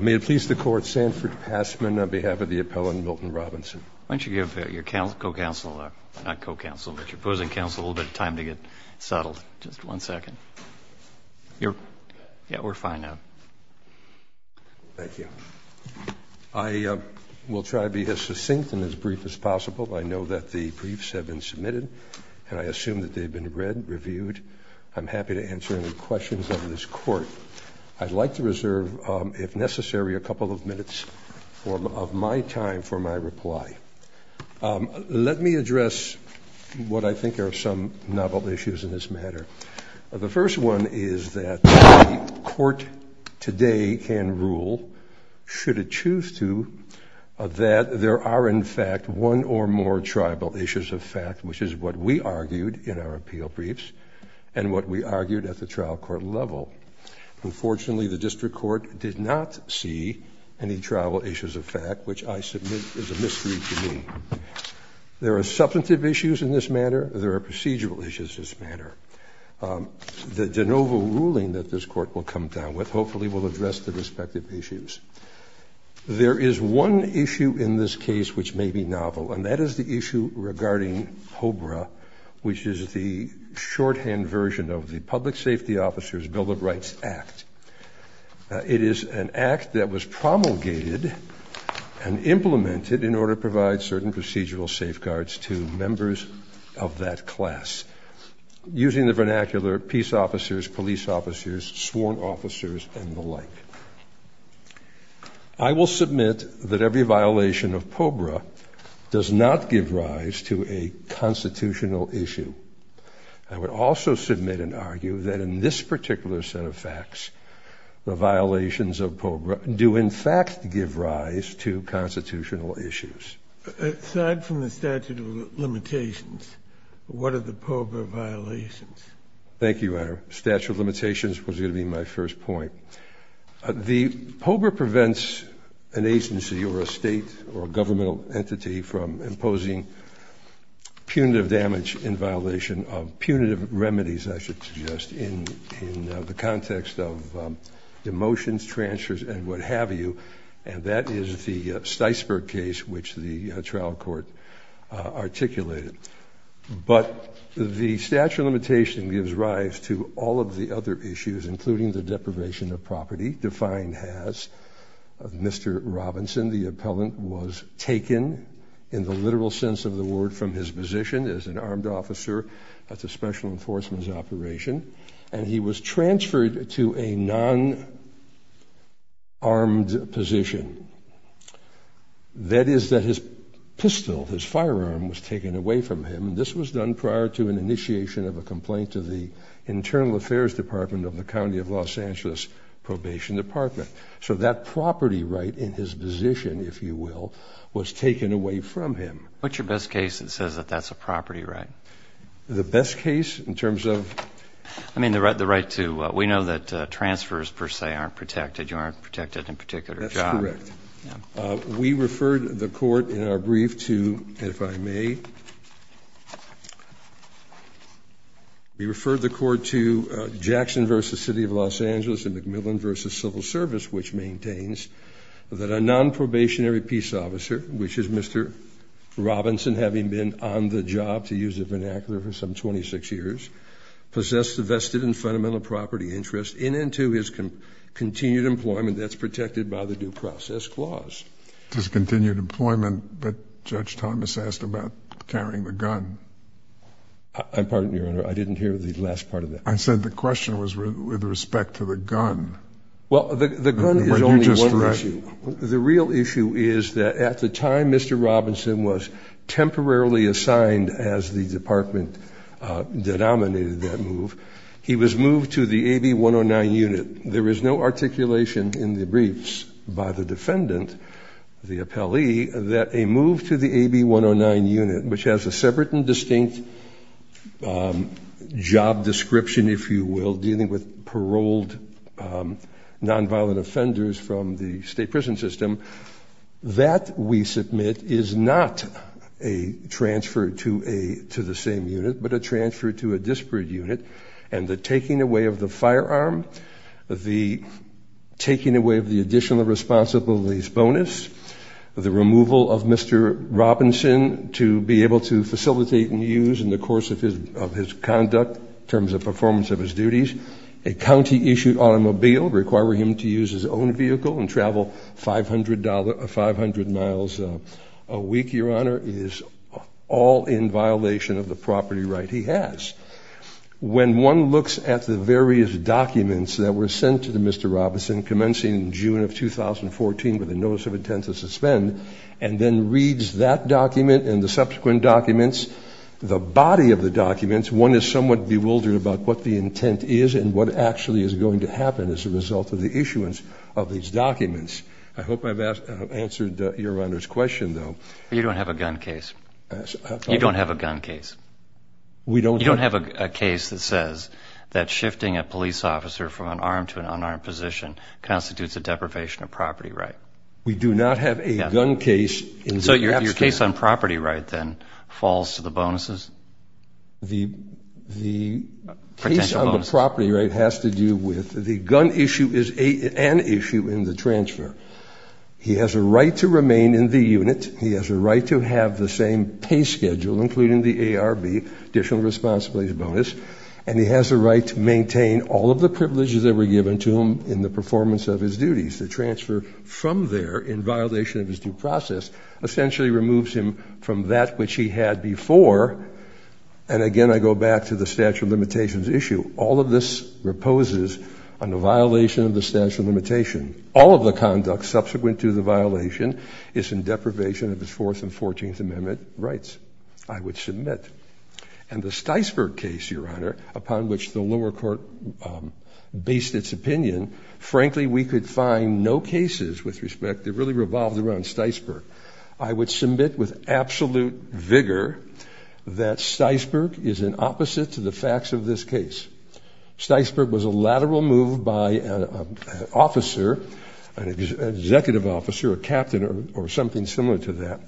May it please the Court, Sanford Passman on behalf of the appellant Milton Robinson. Why don't you give your co-counsel, not co-counsel, but your opposing counsel a little bit of time to get settled. Just one second. Yeah, we're fine now. Thank you. I will try to be as succinct and as brief as possible. I know that the briefs have been submitted, and I assume that they've been read, reviewed. I'm happy to answer any questions of this Court. I'd like to reserve, if necessary, a couple of minutes of my time for my reply. Let me address what I think are some novel issues in this matter. The first one is that the Court today can rule, should it choose to, that there are in fact one or more tribal issues of fact, which is what we argued in our appeal briefs and what we argued at the trial court level. Unfortunately, the district court did not see any tribal issues of fact, which I submit is a mystery to me. There are substantive issues in this matter. There are procedural issues in this matter. The de novo ruling that this Court will come down with hopefully will address the respective issues. There is one issue in this case which may be novel, and that is the issue regarding POBRA, which is the shorthand version of the Public Safety Officers Bill of Rights Act. It is an act that was promulgated and implemented in order to provide certain procedural safeguards to members of that class. Using the vernacular, peace officers, police officers, sworn officers, and the like. I will submit that every violation of POBRA does not give rise to a constitutional issue. I would also submit and argue that in this particular set of facts, the violations of POBRA do in fact give rise to constitutional issues. Aside from the statute of limitations, what are the POBRA violations? Thank you, Your Honor. Statute of limitations was going to be my first point. The POBRA prevents an agency or a state or governmental entity from imposing punitive damage in violation of punitive remedies, I should suggest, in the context of demotions, transfers, and what have you. And that is the Sticeberg case which the trial court articulated. But the statute of limitation gives rise to all of the other issues, including the deprivation of property, defined as, of Mr. Robinson. The appellant was taken, in the literal sense of the word, from his position as an armed officer. That's a special enforcement's operation. And he was transferred to a non-armed position. That is that his pistol, his firearm, was taken away from him. This was done prior to an initiation of a complaint to the Internal Affairs Department of the County of Los Angeles Probation Department. So that property right in his position, if you will, was taken away from him. What's your best case that says that that's a property right? The best case in terms of? I mean, the right to, we know that transfers, per se, aren't protected. You aren't protected in particular jobs. That's correct. We referred the court in our brief to, if I may, we referred the court to Jackson v. City of Los Angeles and McMillan v. Civil Service, which maintains that a non-probationary peace officer, which is Mr. Robinson, having been on the job, to use the vernacular, for some 26 years, possessed a vested and fundamental property interest in and to his continued employment. That's protected by the Due Process Clause. Discontinued employment, but Judge Thomas asked about carrying the gun. I'm pardoned, Your Honor. I didn't hear the last part of that. I said the question was with respect to the gun. Well, the gun is only one issue. The real issue is that at the time Mr. Robinson was temporarily assigned as the department that nominated that move, he was moved to the AB 109 unit. There is no articulation in the briefs by the defendant, the appellee, that a move to the AB 109 unit, which has a separate and distinct job description, if you will, dealing with paroled nonviolent offenders from the state prison system, that, we submit, is not a transfer to the same unit, but a transfer to a disparate unit. And the taking away of the firearm, the taking away of the additional responsibilities bonus, the removal of Mr. Robinson to be able to facilitate and use in the course of his conduct in terms of performance of his duties, a county-issued automobile requiring him to use his own vehicle and travel 500 miles a week, Your Honor, is all in violation of the property right he has. When one looks at the various documents that were sent to Mr. Robinson commencing in June of 2014 with a notice of intent to suspend, and then reads that document and the subsequent documents, the body of the documents, one is somewhat bewildered about what the intent is and what actually is going to happen as a result of the issuance of these documents. I hope I've answered Your Honor's question, though. You don't have a gun case. You don't have a gun case. You don't have a case that says that shifting a police officer from an armed to an unarmed position constitutes a deprivation of property right. We do not have a gun case. So your case on property right then falls to the bonuses? The case on the property right has to do with the gun issue is an issue in the transfer. He has a right to remain in the unit. He has a right to have the same pay schedule, including the ARB, additional responsibilities bonus. And he has a right to maintain all of the privileges that were given to him in the performance of his duties. The transfer from there in violation of his due process essentially removes him from that which he had before. And again, I go back to the statute of limitations issue. All of this reposes on the violation of the statute of limitations. All of the conduct subsequent to the violation is in deprivation of his Fourth and Fourteenth Amendment rights, I would submit. And the Sticeberg case, Your Honor, upon which the lower court based its opinion, frankly, we could find no cases with respect that really revolved around Sticeberg. I would submit with absolute vigor that Sticeberg is an opposite to the facts of this case. Sticeberg was a lateral move by an officer, an executive officer, a captain, or something similar to that,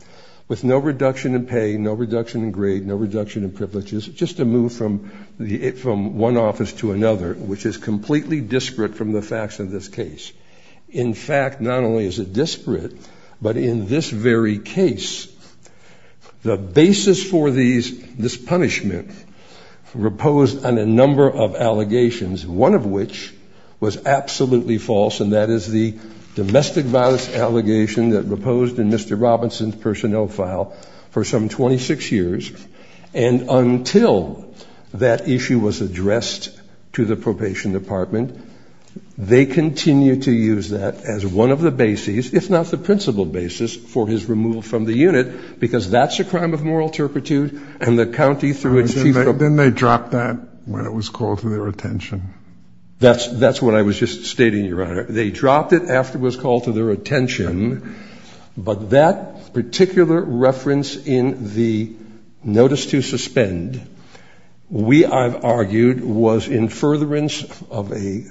with no reduction in pay, no reduction in grade, no reduction in privileges, just a move from one office to another, which is completely disparate from the facts of this case. In fact, not only is it disparate, but in this very case, the basis for this punishment reposed on a number of allegations, one of which was absolutely false, and that is the domestic violence allegation that reposed in Mr. Robinson's personnel file for some 26 years. And until that issue was addressed to the probation department, they continued to use that as one of the bases, if not the principal basis, for his removal from the unit, because that's a crime of moral turpitude, and the county through its chief... Then they dropped that when it was called to their attention. That's what I was just stating, Your Honor. They dropped it after it was called to their attention, but that particular reference in the notice to suspend, we, I've argued, was in furtherance of a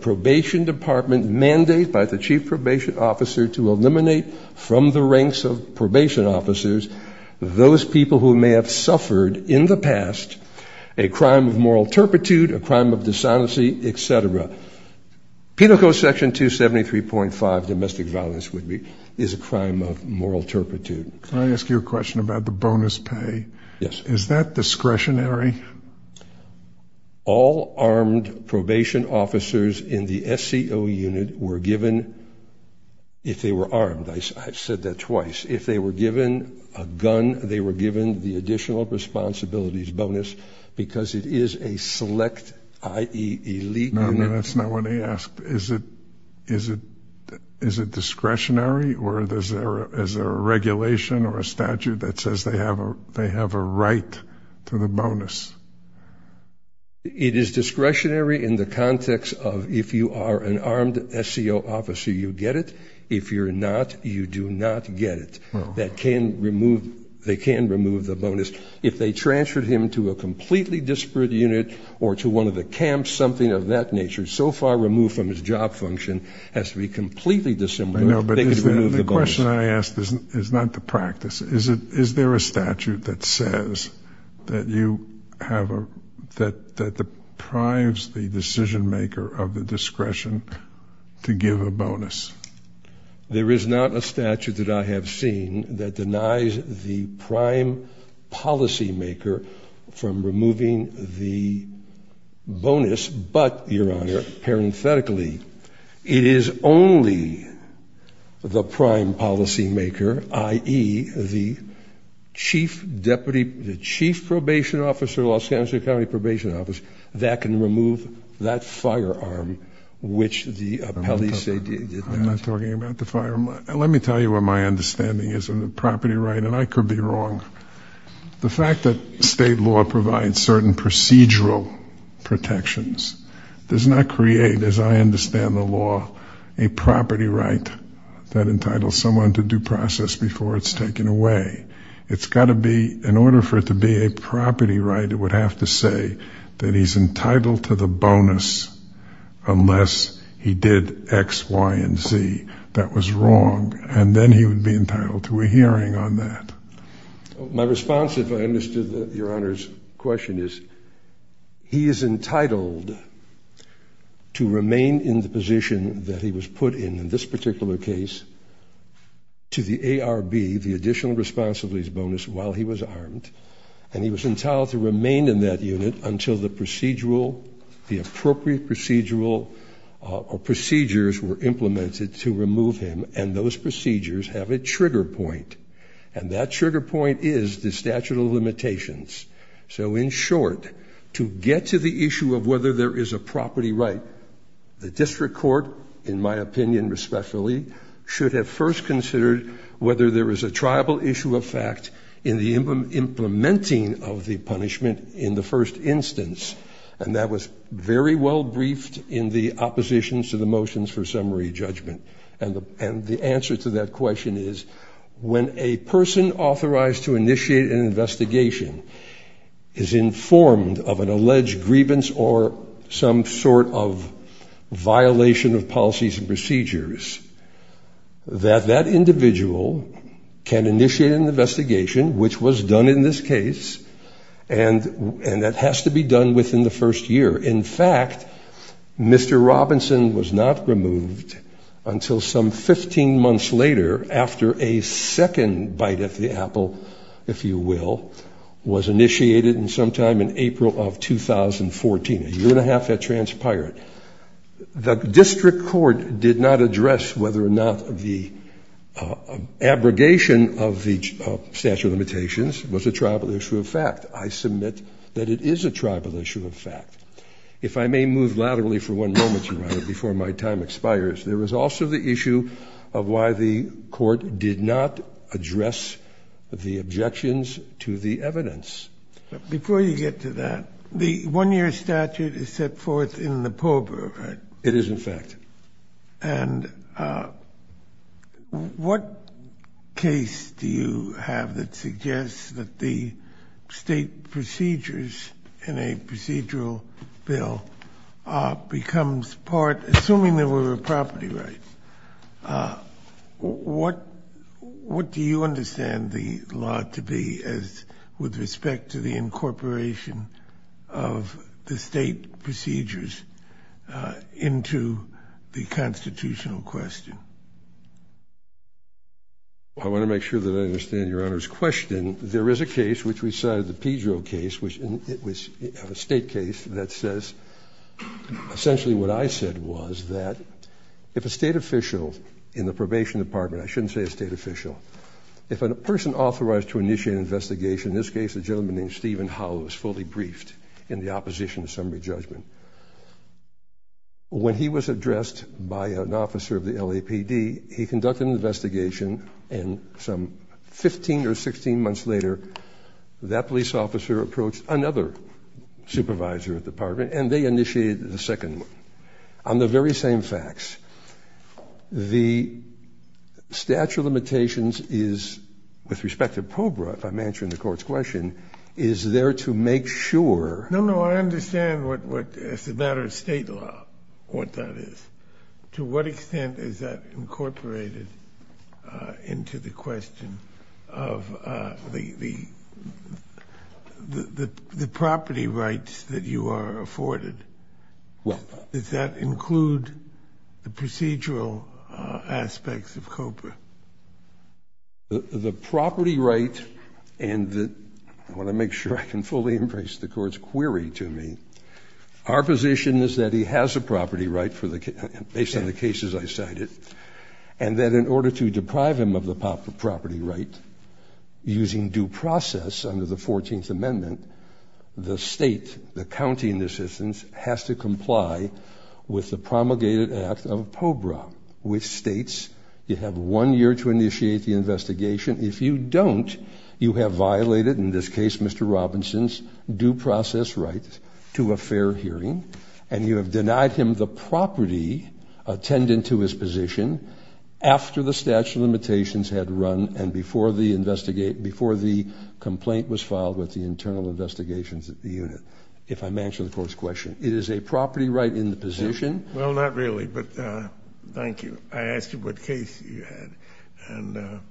probation department mandate by the chief probation officer to eliminate from the ranks of probation officers those people who may have suffered in the past a crime of moral turpitude, a crime of dishonesty, et cetera. Penal Code Section 273.5, domestic violence would be, is a crime of moral turpitude. Can I ask you a question about the bonus pay? Yes. Is that discretionary? All armed probation officers in the SCO unit were given, if they were armed, I said that twice, if they were given a gun, they were given the additional responsibilities bonus because it is a select, i.e. illegal... No, no, that's not what I asked. Is it discretionary, or is there a regulation or a statute that says they have a right to the bonus? It is discretionary in the context of if you are an armed SCO officer, you get it. If you're not, you do not get it. They can remove the bonus. If they transferred him to a completely disparate unit or to one of the camps, something of that nature, so far removed from his job function, has to be completely dissimilar, they could remove the bonus. I know, but the question I asked is not the practice. Is there a statute that says that deprives the decision-maker of the discretion to give a bonus? There is not a statute that I have seen that denies the prime policymaker from removing the bonus, but, Your Honor, parenthetically, it is only the prime policymaker, i.e. the chief probation officer, Los Angeles County Probation Office, that can remove that firearm, which the appellees say did not. I'm not talking about the firearm. Let me tell you what my understanding is on the property right, and I could be wrong. The fact that state law provides certain procedural protections does not create, as I understand the law, a property right that entitles someone to due process before it's taken away. It's got to be, in order for it to be a property right, it would have to say that he's entitled to the bonus unless he did X, Y, and Z. That was wrong, and then he would be entitled to a hearing on that. My response, if I understood Your Honor's question, is he is entitled to remain in the position that he was put in, in this particular case, to the ARB, the Additional Responsibilities Bonus, while he was armed, and he was entitled to remain in that unit until the appropriate procedures were implemented to remove him, and those procedures have a trigger point, and that trigger point is the statute of limitations. So, in short, to get to the issue of whether there is a property right, the district court, in my opinion, respectfully, should have first considered whether there is a triable issue of fact in the implementing of the punishment in the first instance, and that was very well briefed in the oppositions to the motions for summary judgment, and the answer to that question is, when a person authorized to initiate an investigation is informed of an alleged grievance or some sort of violation of policies and procedures, that that individual can initiate an investigation, which was done in this case, and that has to be done within the first year. In fact, Mr. Robinson was not removed until some 15 months later, after a second bite at the apple, if you will, was initiated sometime in April of 2014, a year and a half had transpired. The district court did not address whether or not the abrogation of the statute of limitations was a triable issue of fact. I submit that it is a triable issue of fact. If I may move laterally for one moment, Your Honor, before my time expires, there was also the issue of why the court did not address the objections to the evidence. Before you get to that, the one-year statute is set forth in the POBRA, right? It is, in fact. And what case do you have that suggests that the state procedures in a procedural bill becomes part, assuming there were property rights, what do you understand the law to be as, with respect to the incorporation of the state procedures into the constitutional question? I want to make sure that I understand Your Honor's question. There is a case, which we cited, the Pedro case, which was a state case that says essentially what I said was that if a state official in the probation department, I shouldn't say a state official, if a person authorized to initiate an investigation, in this case a gentleman named Stephen Howell, was fully briefed in the opposition to summary judgment, when he was addressed by an officer of the LAPD, he conducted an investigation, and some 15 or 16 months later, that police officer approached another supervisor of the department, and they initiated the second one. On the very same facts, the statute of limitations is, with respect to POBRA, if I'm answering the court's question, is there to make sure... No, no, I understand what, as a matter of state law, what that is. To what extent is that incorporated into the question of the property rights that you are afforded? Does that include the procedural aspects of COBRA? The property right, and I want to make sure I can fully embrace the court's query to me, our position is that he has a property right, based on the cases I cited, and that in order to deprive him of the property right, using due process under the 14th Amendment, the state, the county in this instance, has to comply with the promulgated act of POBRA, which states you have one year to initiate the investigation. If you don't, you have violated, in this case, Mr. Robinson's due process right to a fair hearing, and you have denied him the property attendant to his position after the statute of limitations had run and before the complaint was filed with the internal investigations at the unit, if I'm answering the court's question. It is a property right in the position... Well, not really, but thank you. I asked you what case you had,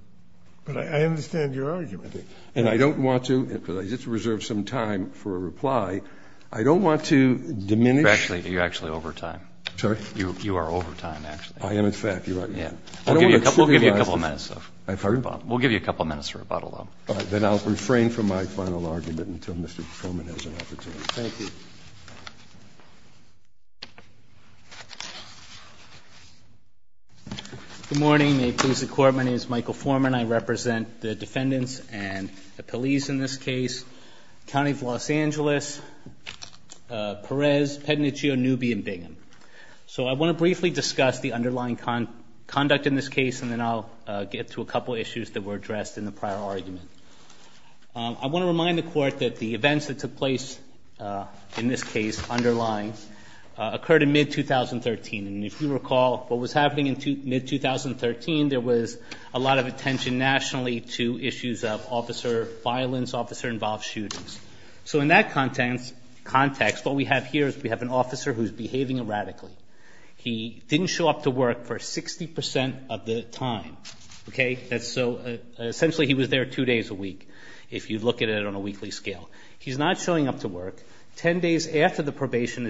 but I understand your argument. And I don't want to, because I just reserved some time for a reply, I don't want to diminish... You're actually over time. I'm sorry? You are over time, actually. I am, in fact. You're right. We'll give you a couple minutes. I'm sorry? We'll give you a couple minutes for rebuttal, though. All right. Then I'll refrain from my final argument until Mr. Coleman has an opportunity. Thank you. Good morning. May it please the Court, my name is Michael Foreman. I represent the defendants and the police in this case, County of Los Angeles, Perez, Pednichio, Newby, and Bingham. So I want to briefly discuss the underlying conduct in this case, and then I'll get to a couple issues that were addressed in the prior argument. I want to remind the Court that the events that took place in this case underlying occurred in mid-2013. And if you recall, what was happening in mid-2013, there was a lot of attention nationally to issues of officer violence, officer-involved shootings. So in that context, what we have here is we have an officer who's behaving erratically. He didn't show up to work for 60% of the time. Okay? So essentially he was there two days a week, if you look at it on a weekly scale. He's not showing up to work. Ten days after the probation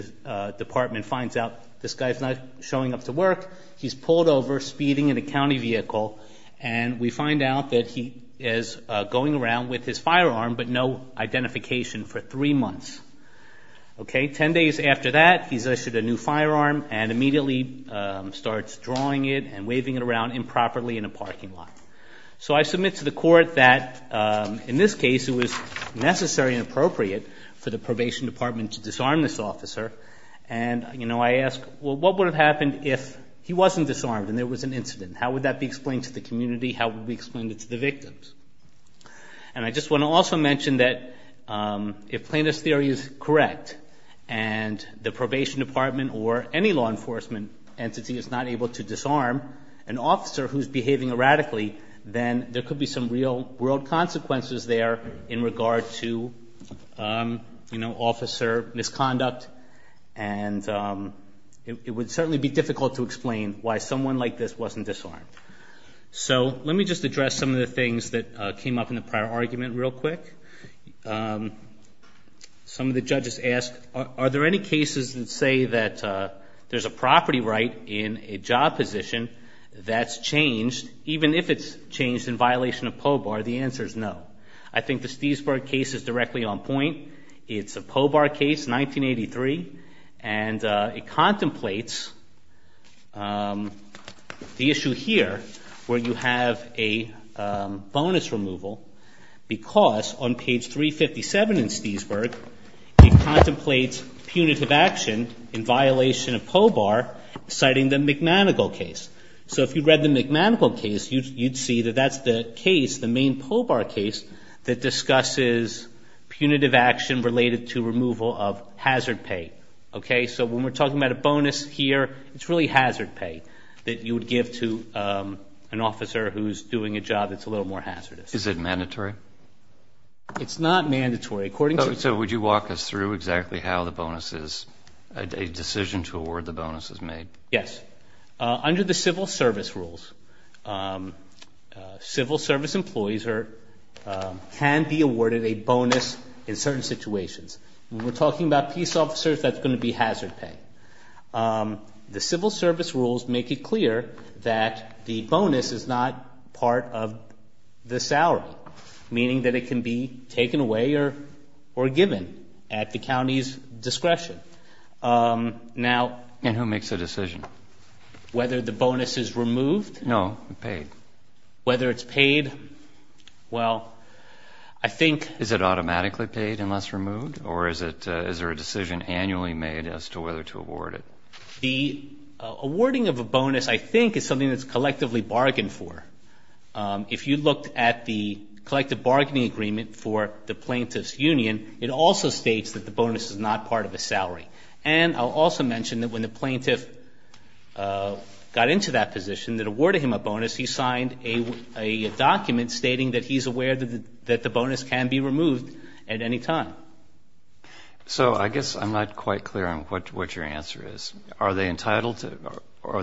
department finds out this guy's not showing up to work, he's pulled over, speeding in a county vehicle, and we find out that he is going around with his firearm but no identification for three months. Okay? Ten days after that, he's issued a new firearm and immediately starts drawing it and waving it around improperly in a parking lot. So I submit to the Court that in this case it was necessary and appropriate for the probation department to disarm this officer. And, you know, I ask, well, what would have happened if he wasn't disarmed and there was an incident? How would that be explained to the community? How would it be explained to the victims? And I just want to also mention that if plaintiff's theory is correct and the probation department or any law enforcement entity is not able to disarm an officer who's behaving erratically, then there could be some real-world consequences there in regard to, you know, officer misconduct. And it would certainly be difficult to explain why someone like this wasn't disarmed. So let me just address some of the things that came up in the prior argument real quick. Some of the judges asked, are there any cases that say that there's a property right in a job position that's changed, even if it's changed in violation of POBAR? The answer is no. I think the Stiesberg case is directly on point. It's a POBAR case, 1983, and it contemplates the issue here where you have a bonus removal because on page 357 in Stiesberg it contemplates punitive action in violation of POBAR citing the McManigle case. So if you read the McManigle case, you'd see that that's the case, the main POBAR case, that discusses punitive action related to removal of hazard pay. Okay, so when we're talking about a bonus here, it's really hazard pay that you would give to an officer who's doing a job that's a little more hazardous. Is it mandatory? It's not mandatory. So would you walk us through exactly how the bonus is, a decision to award the bonus is made? Yes. Under the civil service rules, civil service employees can be awarded a bonus in certain situations. When we're talking about peace officers, that's going to be hazard pay. The civil service rules make it clear that the bonus is not part of the salary, meaning that it can be taken away or given at the county's discretion. And who makes the decision? Whether the bonus is removed? No, paid. Whether it's paid? Well, I think Is it automatically paid unless removed, or is there a decision annually made as to whether to award it? The awarding of a bonus, I think, is something that's collectively bargained for. If you looked at the collective bargaining agreement for the plaintiff's union, it also states that the bonus is not part of the salary. And I'll also mention that when the plaintiff got into that position, that awarded him a bonus, he signed a document stating that he's aware that the bonus can be removed at any time. So I guess I'm not quite clear on what your answer is. Are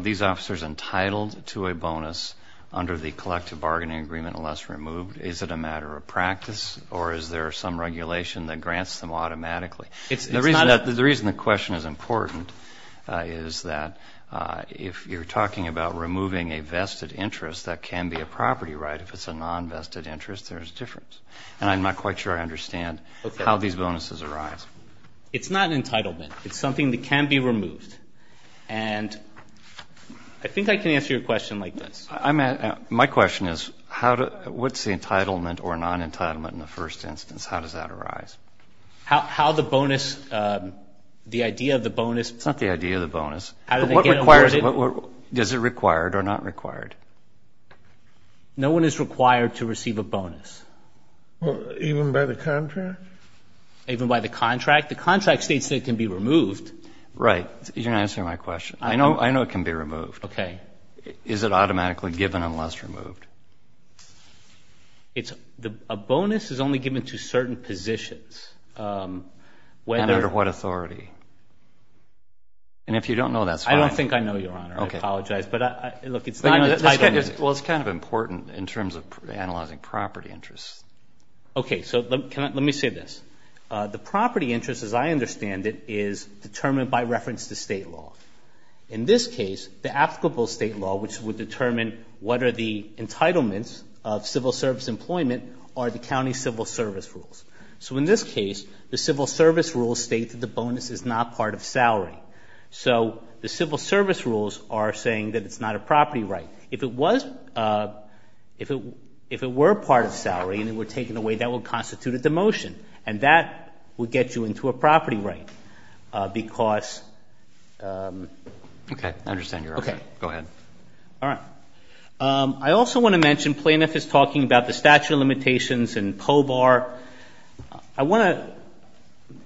these officers entitled to a bonus under the collective bargaining agreement unless removed? Is it a matter of practice, or is there some regulation that grants them automatically? The reason the question is important is that if you're talking about removing a vested interest, that can be a property right. If it's a non-vested interest, there's a difference. And I'm not quite sure I understand how these bonuses arise. It's not entitlement. It's something that can be removed. And I think I can answer your question like this. My question is, what's the entitlement or non-entitlement in the first instance? How does that arise? How the bonus, the idea of the bonus. It's not the idea of the bonus. But what requires it? Does it require it or not require it? No one is required to receive a bonus. Even by the contract? Even by the contract. The contract states that it can be removed. Right. You're not answering my question. I know it can be removed. Okay. But is it automatically given unless removed? A bonus is only given to certain positions. Under what authority? And if you don't know, that's fine. I don't think I know, Your Honor. I apologize. But look, it's not entitlement. Well, it's kind of important in terms of analyzing property interests. Okay. So let me say this. The property interest, as I understand it, is determined by reference to state law. In this case, the applicable state law, which would determine what are the entitlements of civil service employment, are the county civil service rules. So in this case, the civil service rules state that the bonus is not part of salary. So the civil service rules are saying that it's not a property right. If it were part of salary and it were taken away, that would constitute a demotion. And that would get you into a property right because. Okay. I understand, Your Honor. Okay. Go ahead. All right. I also want to mention plaintiff is talking about the statute of limitations and POBAR. I want to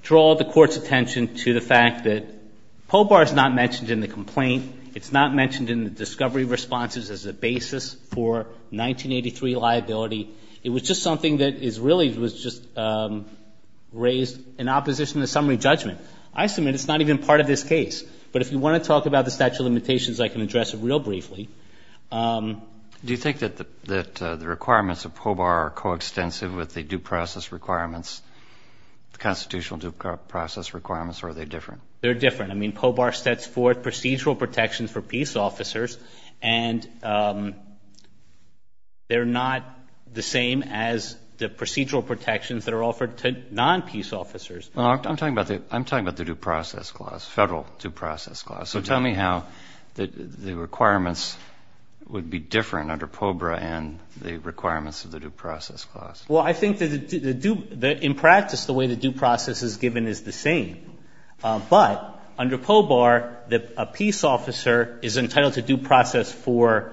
draw the court's attention to the fact that POBAR is not mentioned in the complaint. It's not mentioned in the discovery responses as a basis for 1983 liability. It was just something that is really was just raised in opposition to summary judgment. I submit it's not even part of this case. But if you want to talk about the statute of limitations, I can address it real briefly. Do you think that the requirements of POBAR are coextensive with the due process requirements, the constitutional due process requirements, or are they different? They're different. I mean, POBAR sets forth procedural protections for peace officers, and they're not the same as the procedural protections that are offered to non-peace officers. I'm talking about the due process clause, federal due process clause. So tell me how the requirements would be different under POBAR and the requirements of the due process clause. Well, I think that in practice the way the due process is given is the same. But under POBAR, a peace officer is entitled to due process for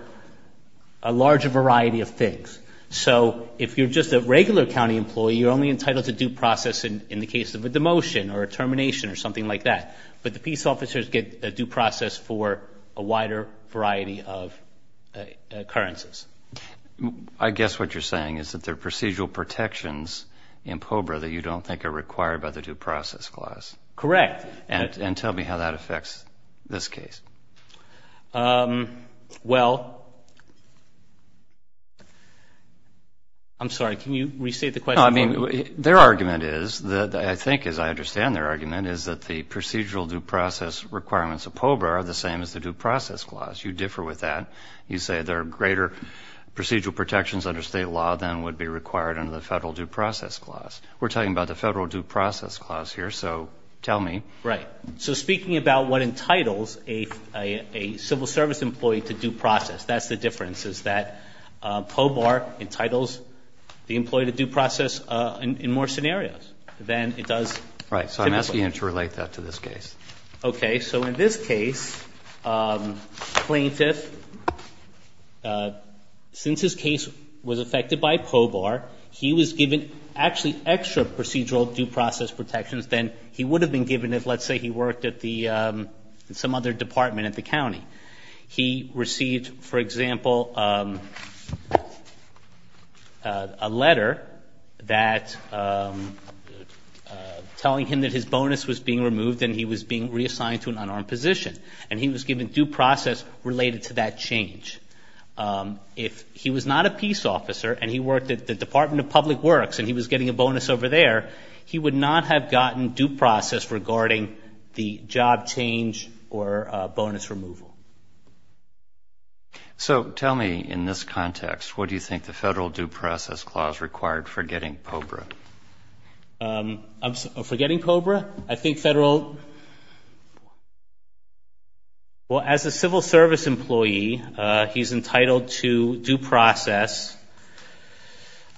a larger variety of things. So if you're just a regular county employee, you're only entitled to due process in the case of a demotion or a termination or something like that. But the peace officers get a due process for a wider variety of occurrences. I guess what you're saying is that there are procedural protections in POBAR that you don't think are required by the due process clause. Correct. And tell me how that affects this case. Well, I'm sorry. Can you restate the question? No, I mean, their argument is, I think as I understand their argument, is that the procedural due process requirements of POBAR are the same as the due process clause. You differ with that. You say there are greater procedural protections under state law than would be required under the federal due process clause. We're talking about the federal due process clause here, so tell me. Right. So speaking about what entitles a civil service employee to due process, that's the difference is that POBAR entitles the employee to due process in more scenarios than it does typically. Right. So I'm asking you to relate that to this case. Okay. So in this case, plaintiff, since his case was affected by POBAR, he was given actually extra procedural due process protections than he would have been given if, let's say, he worked at some other department at the county. He received, for example, a letter that telling him that his bonus was being removed and he was being reassigned to an unarmed position, and he was given due process related to that change. If he was not a peace officer and he worked at the Department of Public Works and he was getting a bonus over there, he would not have gotten due process regarding the job change or bonus removal. So tell me, in this context, what do you think the federal due process clause required for getting POBRA? For getting POBRA? I think federal – well, as a civil service employee, he's entitled to due process.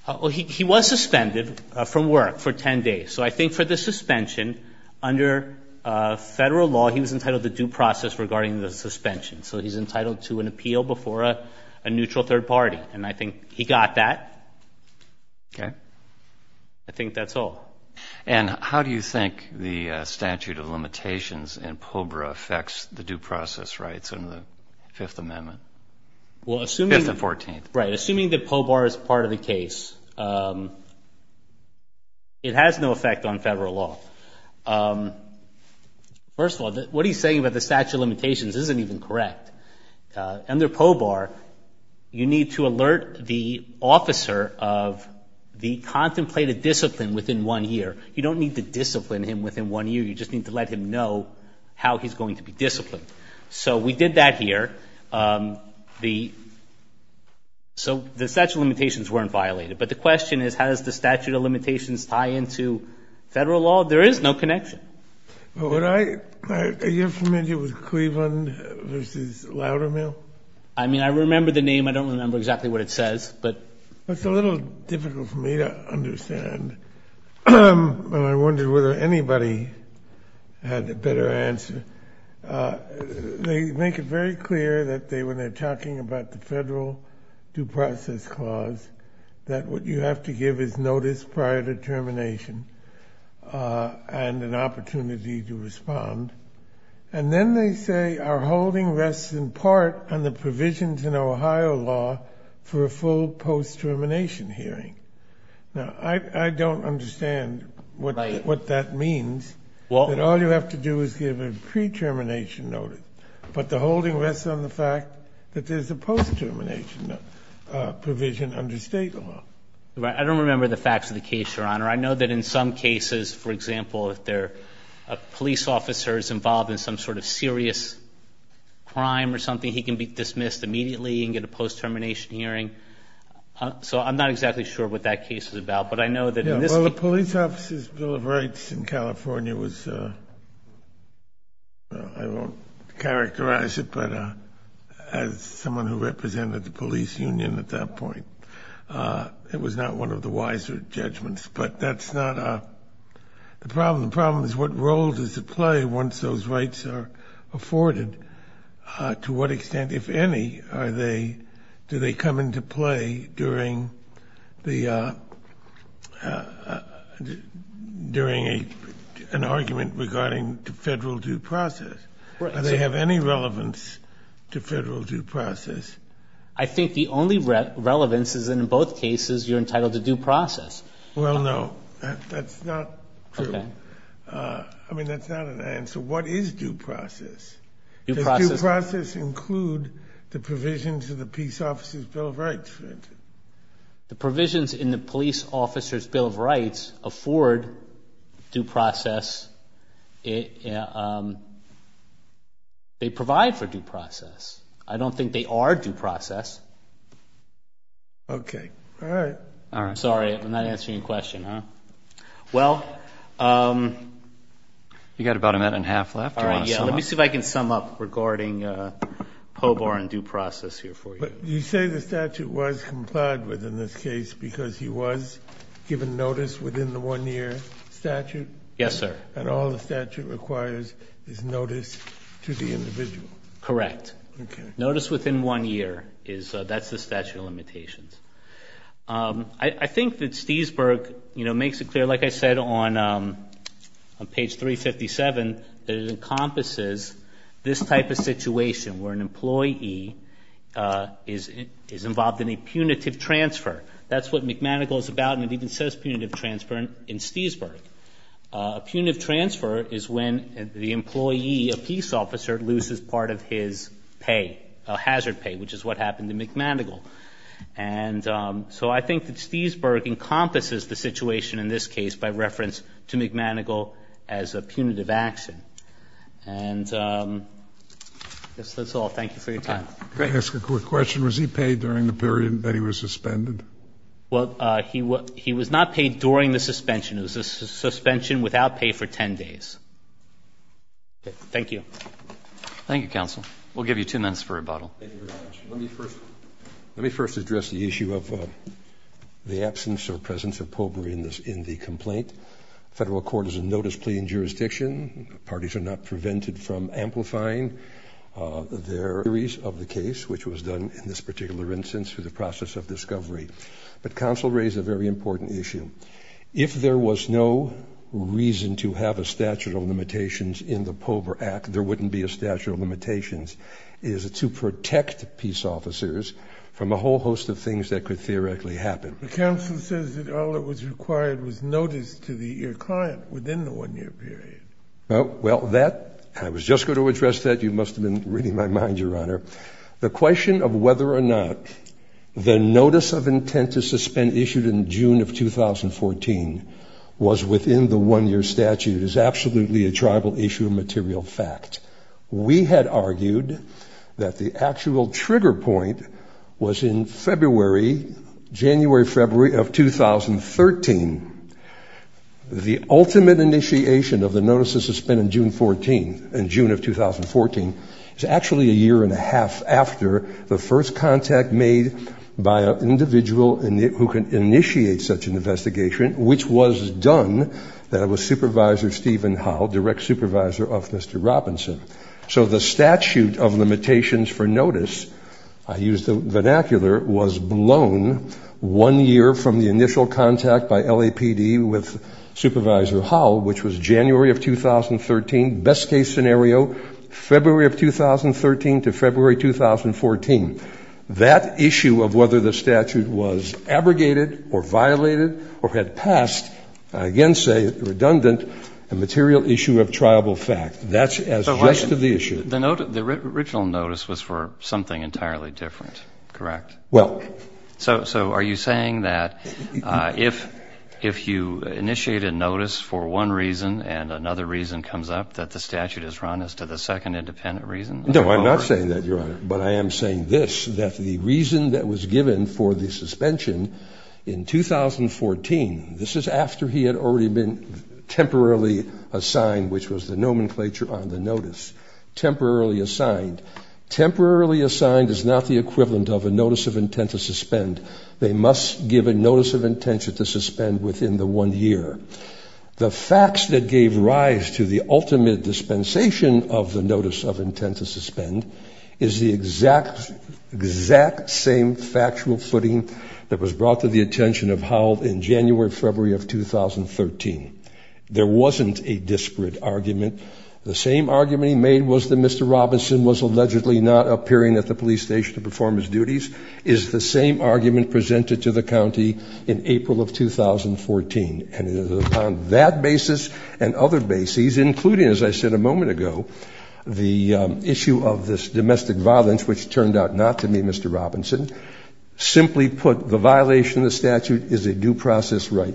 Well, he was suspended from work for 10 days. So I think for the suspension, under federal law, he was entitled to due process regarding the suspension. So he's entitled to an appeal before a neutral third party, and I think he got that. Okay. I think that's all. And how do you think the statute of limitations in POBRA affects the due process rights under the Fifth Amendment? Fifth and 14th. Right. Assuming that POBRA is part of the case, it has no effect on federal law. First of all, what he's saying about the statute of limitations isn't even correct. Under POBRA, you need to alert the officer of the contemplated discipline within one year. You don't need to discipline him within one year. You just need to let him know how he's going to be disciplined. So we did that here. So the statute of limitations weren't violated. But the question is, how does the statute of limitations tie into federal law? There is no connection. Are you familiar with Cleveland v. Loudermill? I mean, I remember the name. I don't remember exactly what it says. It's a little difficult for me to understand. I wonder whether anybody had a better answer. They make it very clear that when they're talking about the federal due process clause, that what you have to give is notice prior to termination and an opportunity to respond. And then they say our holding rests in part on the provisions in Ohio law for a full post-termination hearing. Now, I don't understand what that means, that all you have to do is give a pre-termination notice. But the holding rests on the fact that there's a post-termination provision under state law. I don't remember the facts of the case, Your Honor. I know that in some cases, for example, if a police officer is involved in some sort of serious crime or something, he can be dismissed immediately and get a post-termination hearing. So I'm not exactly sure what that case is about. Well, the police officer's Bill of Rights in California was, I won't characterize it, but as someone who represented the police union at that point, it was not one of the wiser judgments. But that's not the problem. The problem is what role does it play once those rights are afforded? To what extent, if any, do they come into play during an argument regarding federal due process? Do they have any relevance to federal due process? I think the only relevance is in both cases you're entitled to due process. Well, no. That's not true. I mean, that's not an answer. What is due process? Does due process include the provisions of the police officer's Bill of Rights, for instance? The provisions in the police officer's Bill of Rights afford due process. They provide for due process. I don't think they are due process. Okay. All right. I'm sorry. I'm not answering your question, huh? Well, you've got about a minute and a half left. Let me see if I can sum up regarding POBAR and due process here for you. You say the statute was complied with in this case because he was given notice within the one-year statute? Yes, sir. And all the statute requires is notice to the individual? Correct. Okay. Notice within one year, that's the statute of limitations. I think that Stiesberg, you know, makes it clear, like I said on page 357, that it encompasses this type of situation where an employee is involved in a punitive transfer. That's what McManagel is about, and it even says punitive transfer in Stiesberg. A punitive transfer is when the employee, a peace officer, loses part of his pay, hazard pay, which is what happened to McManagel. And so I think that Stiesberg encompasses the situation in this case by reference to McManagel as a punitive action. And I guess that's all. Thank you for your time. Can I ask a quick question? Was he paid during the period that he was suspended? Well, he was not paid during the suspension. It was a suspension without pay for 10 days. Thank you. Thank you, counsel. We'll give you two minutes for rebuttal. Thank you very much. Let me first address the issue of the absence or presence of POBR in the complaint. Federal court is a notice plea in jurisdiction. Parties are not prevented from amplifying their theories of the case, which was done in this particular instance through the process of discovery. But counsel raised a very important issue. If there was no reason to have a statute of limitations in the POBR Act, there wouldn't be a statute of limitations. It is to protect peace officers from a whole host of things that could theoretically happen. But counsel says that all that was required was notice to the client within the one-year period. Well, that, I was just going to address that. You must have been reading my mind, Your Honor. The question of whether or not the notice of intent to suspend issued in June of 2014 was within the one-year statute is absolutely a tribal issue of material fact. We had argued that the actual trigger point was in February, January, February of 2013. The ultimate initiation of the notice of suspend in June of 2014 is actually a year and a half after the first contact made by an individual who can initiate such an investigation, which was done by Supervisor Stephen Howell, direct supervisor of Mr. Robinson. So the statute of limitations for notice, I use the vernacular, was blown one year from the initial contact by LAPD with Supervisor Howell, which was January of 2013, best-case scenario, February of 2013 to February 2014. That issue of whether the statute was abrogated or violated or had passed, I again say it's redundant, a material issue of tribal fact. That's as just of the issue. The original notice was for something entirely different, correct? Well. So are you saying that if you initiate a notice for one reason and another reason comes up that the statute is run as to the second independent reason? No, I'm not saying that, Your Honor, but I am saying this, that the reason that was given for the suspension in 2014, this is after he had already been temporarily assigned, which was the nomenclature on the notice, temporarily assigned. Temporarily assigned is not the equivalent of a notice of intent to suspend. They must give a notice of intent to suspend within the one year. The facts that gave rise to the ultimate dispensation of the notice of intent to suspend is the exact same factual footing that was brought to the attention of Howell in January, February of 2013. There wasn't a disparate argument. The same argument he made was that Mr. Robinson was allegedly not appearing at the police station to perform his duties is the same argument presented to the county in April of 2014. And it is upon that basis and other bases, including, as I said a moment ago, the issue of this domestic violence, which turned out not to be Mr. Robinson. Simply put, the violation of the statute is a due process right.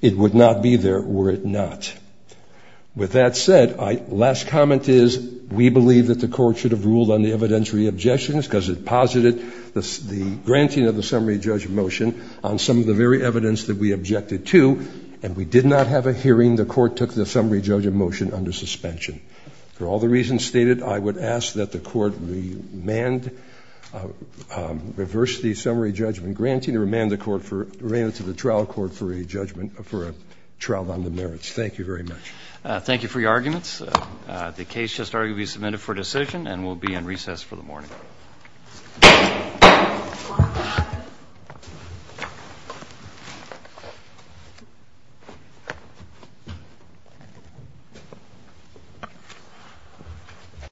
It would not be there were it not. With that said, last comment is we believe that the court should have ruled on the evidentiary objections because it posited the granting of the summary judge motion on some of the very evidence that we objected to. And we did not have a hearing. The court took the summary judge motion under suspension. For all the reasons stated, I would ask that the court remand, reverse the summary judgment granting or remand the trial court for a judgment for a trial on the merits. Thank you very much. Thank you for your arguments. The case just arguably submitted for decision and will be in recess for the morning. Thank you.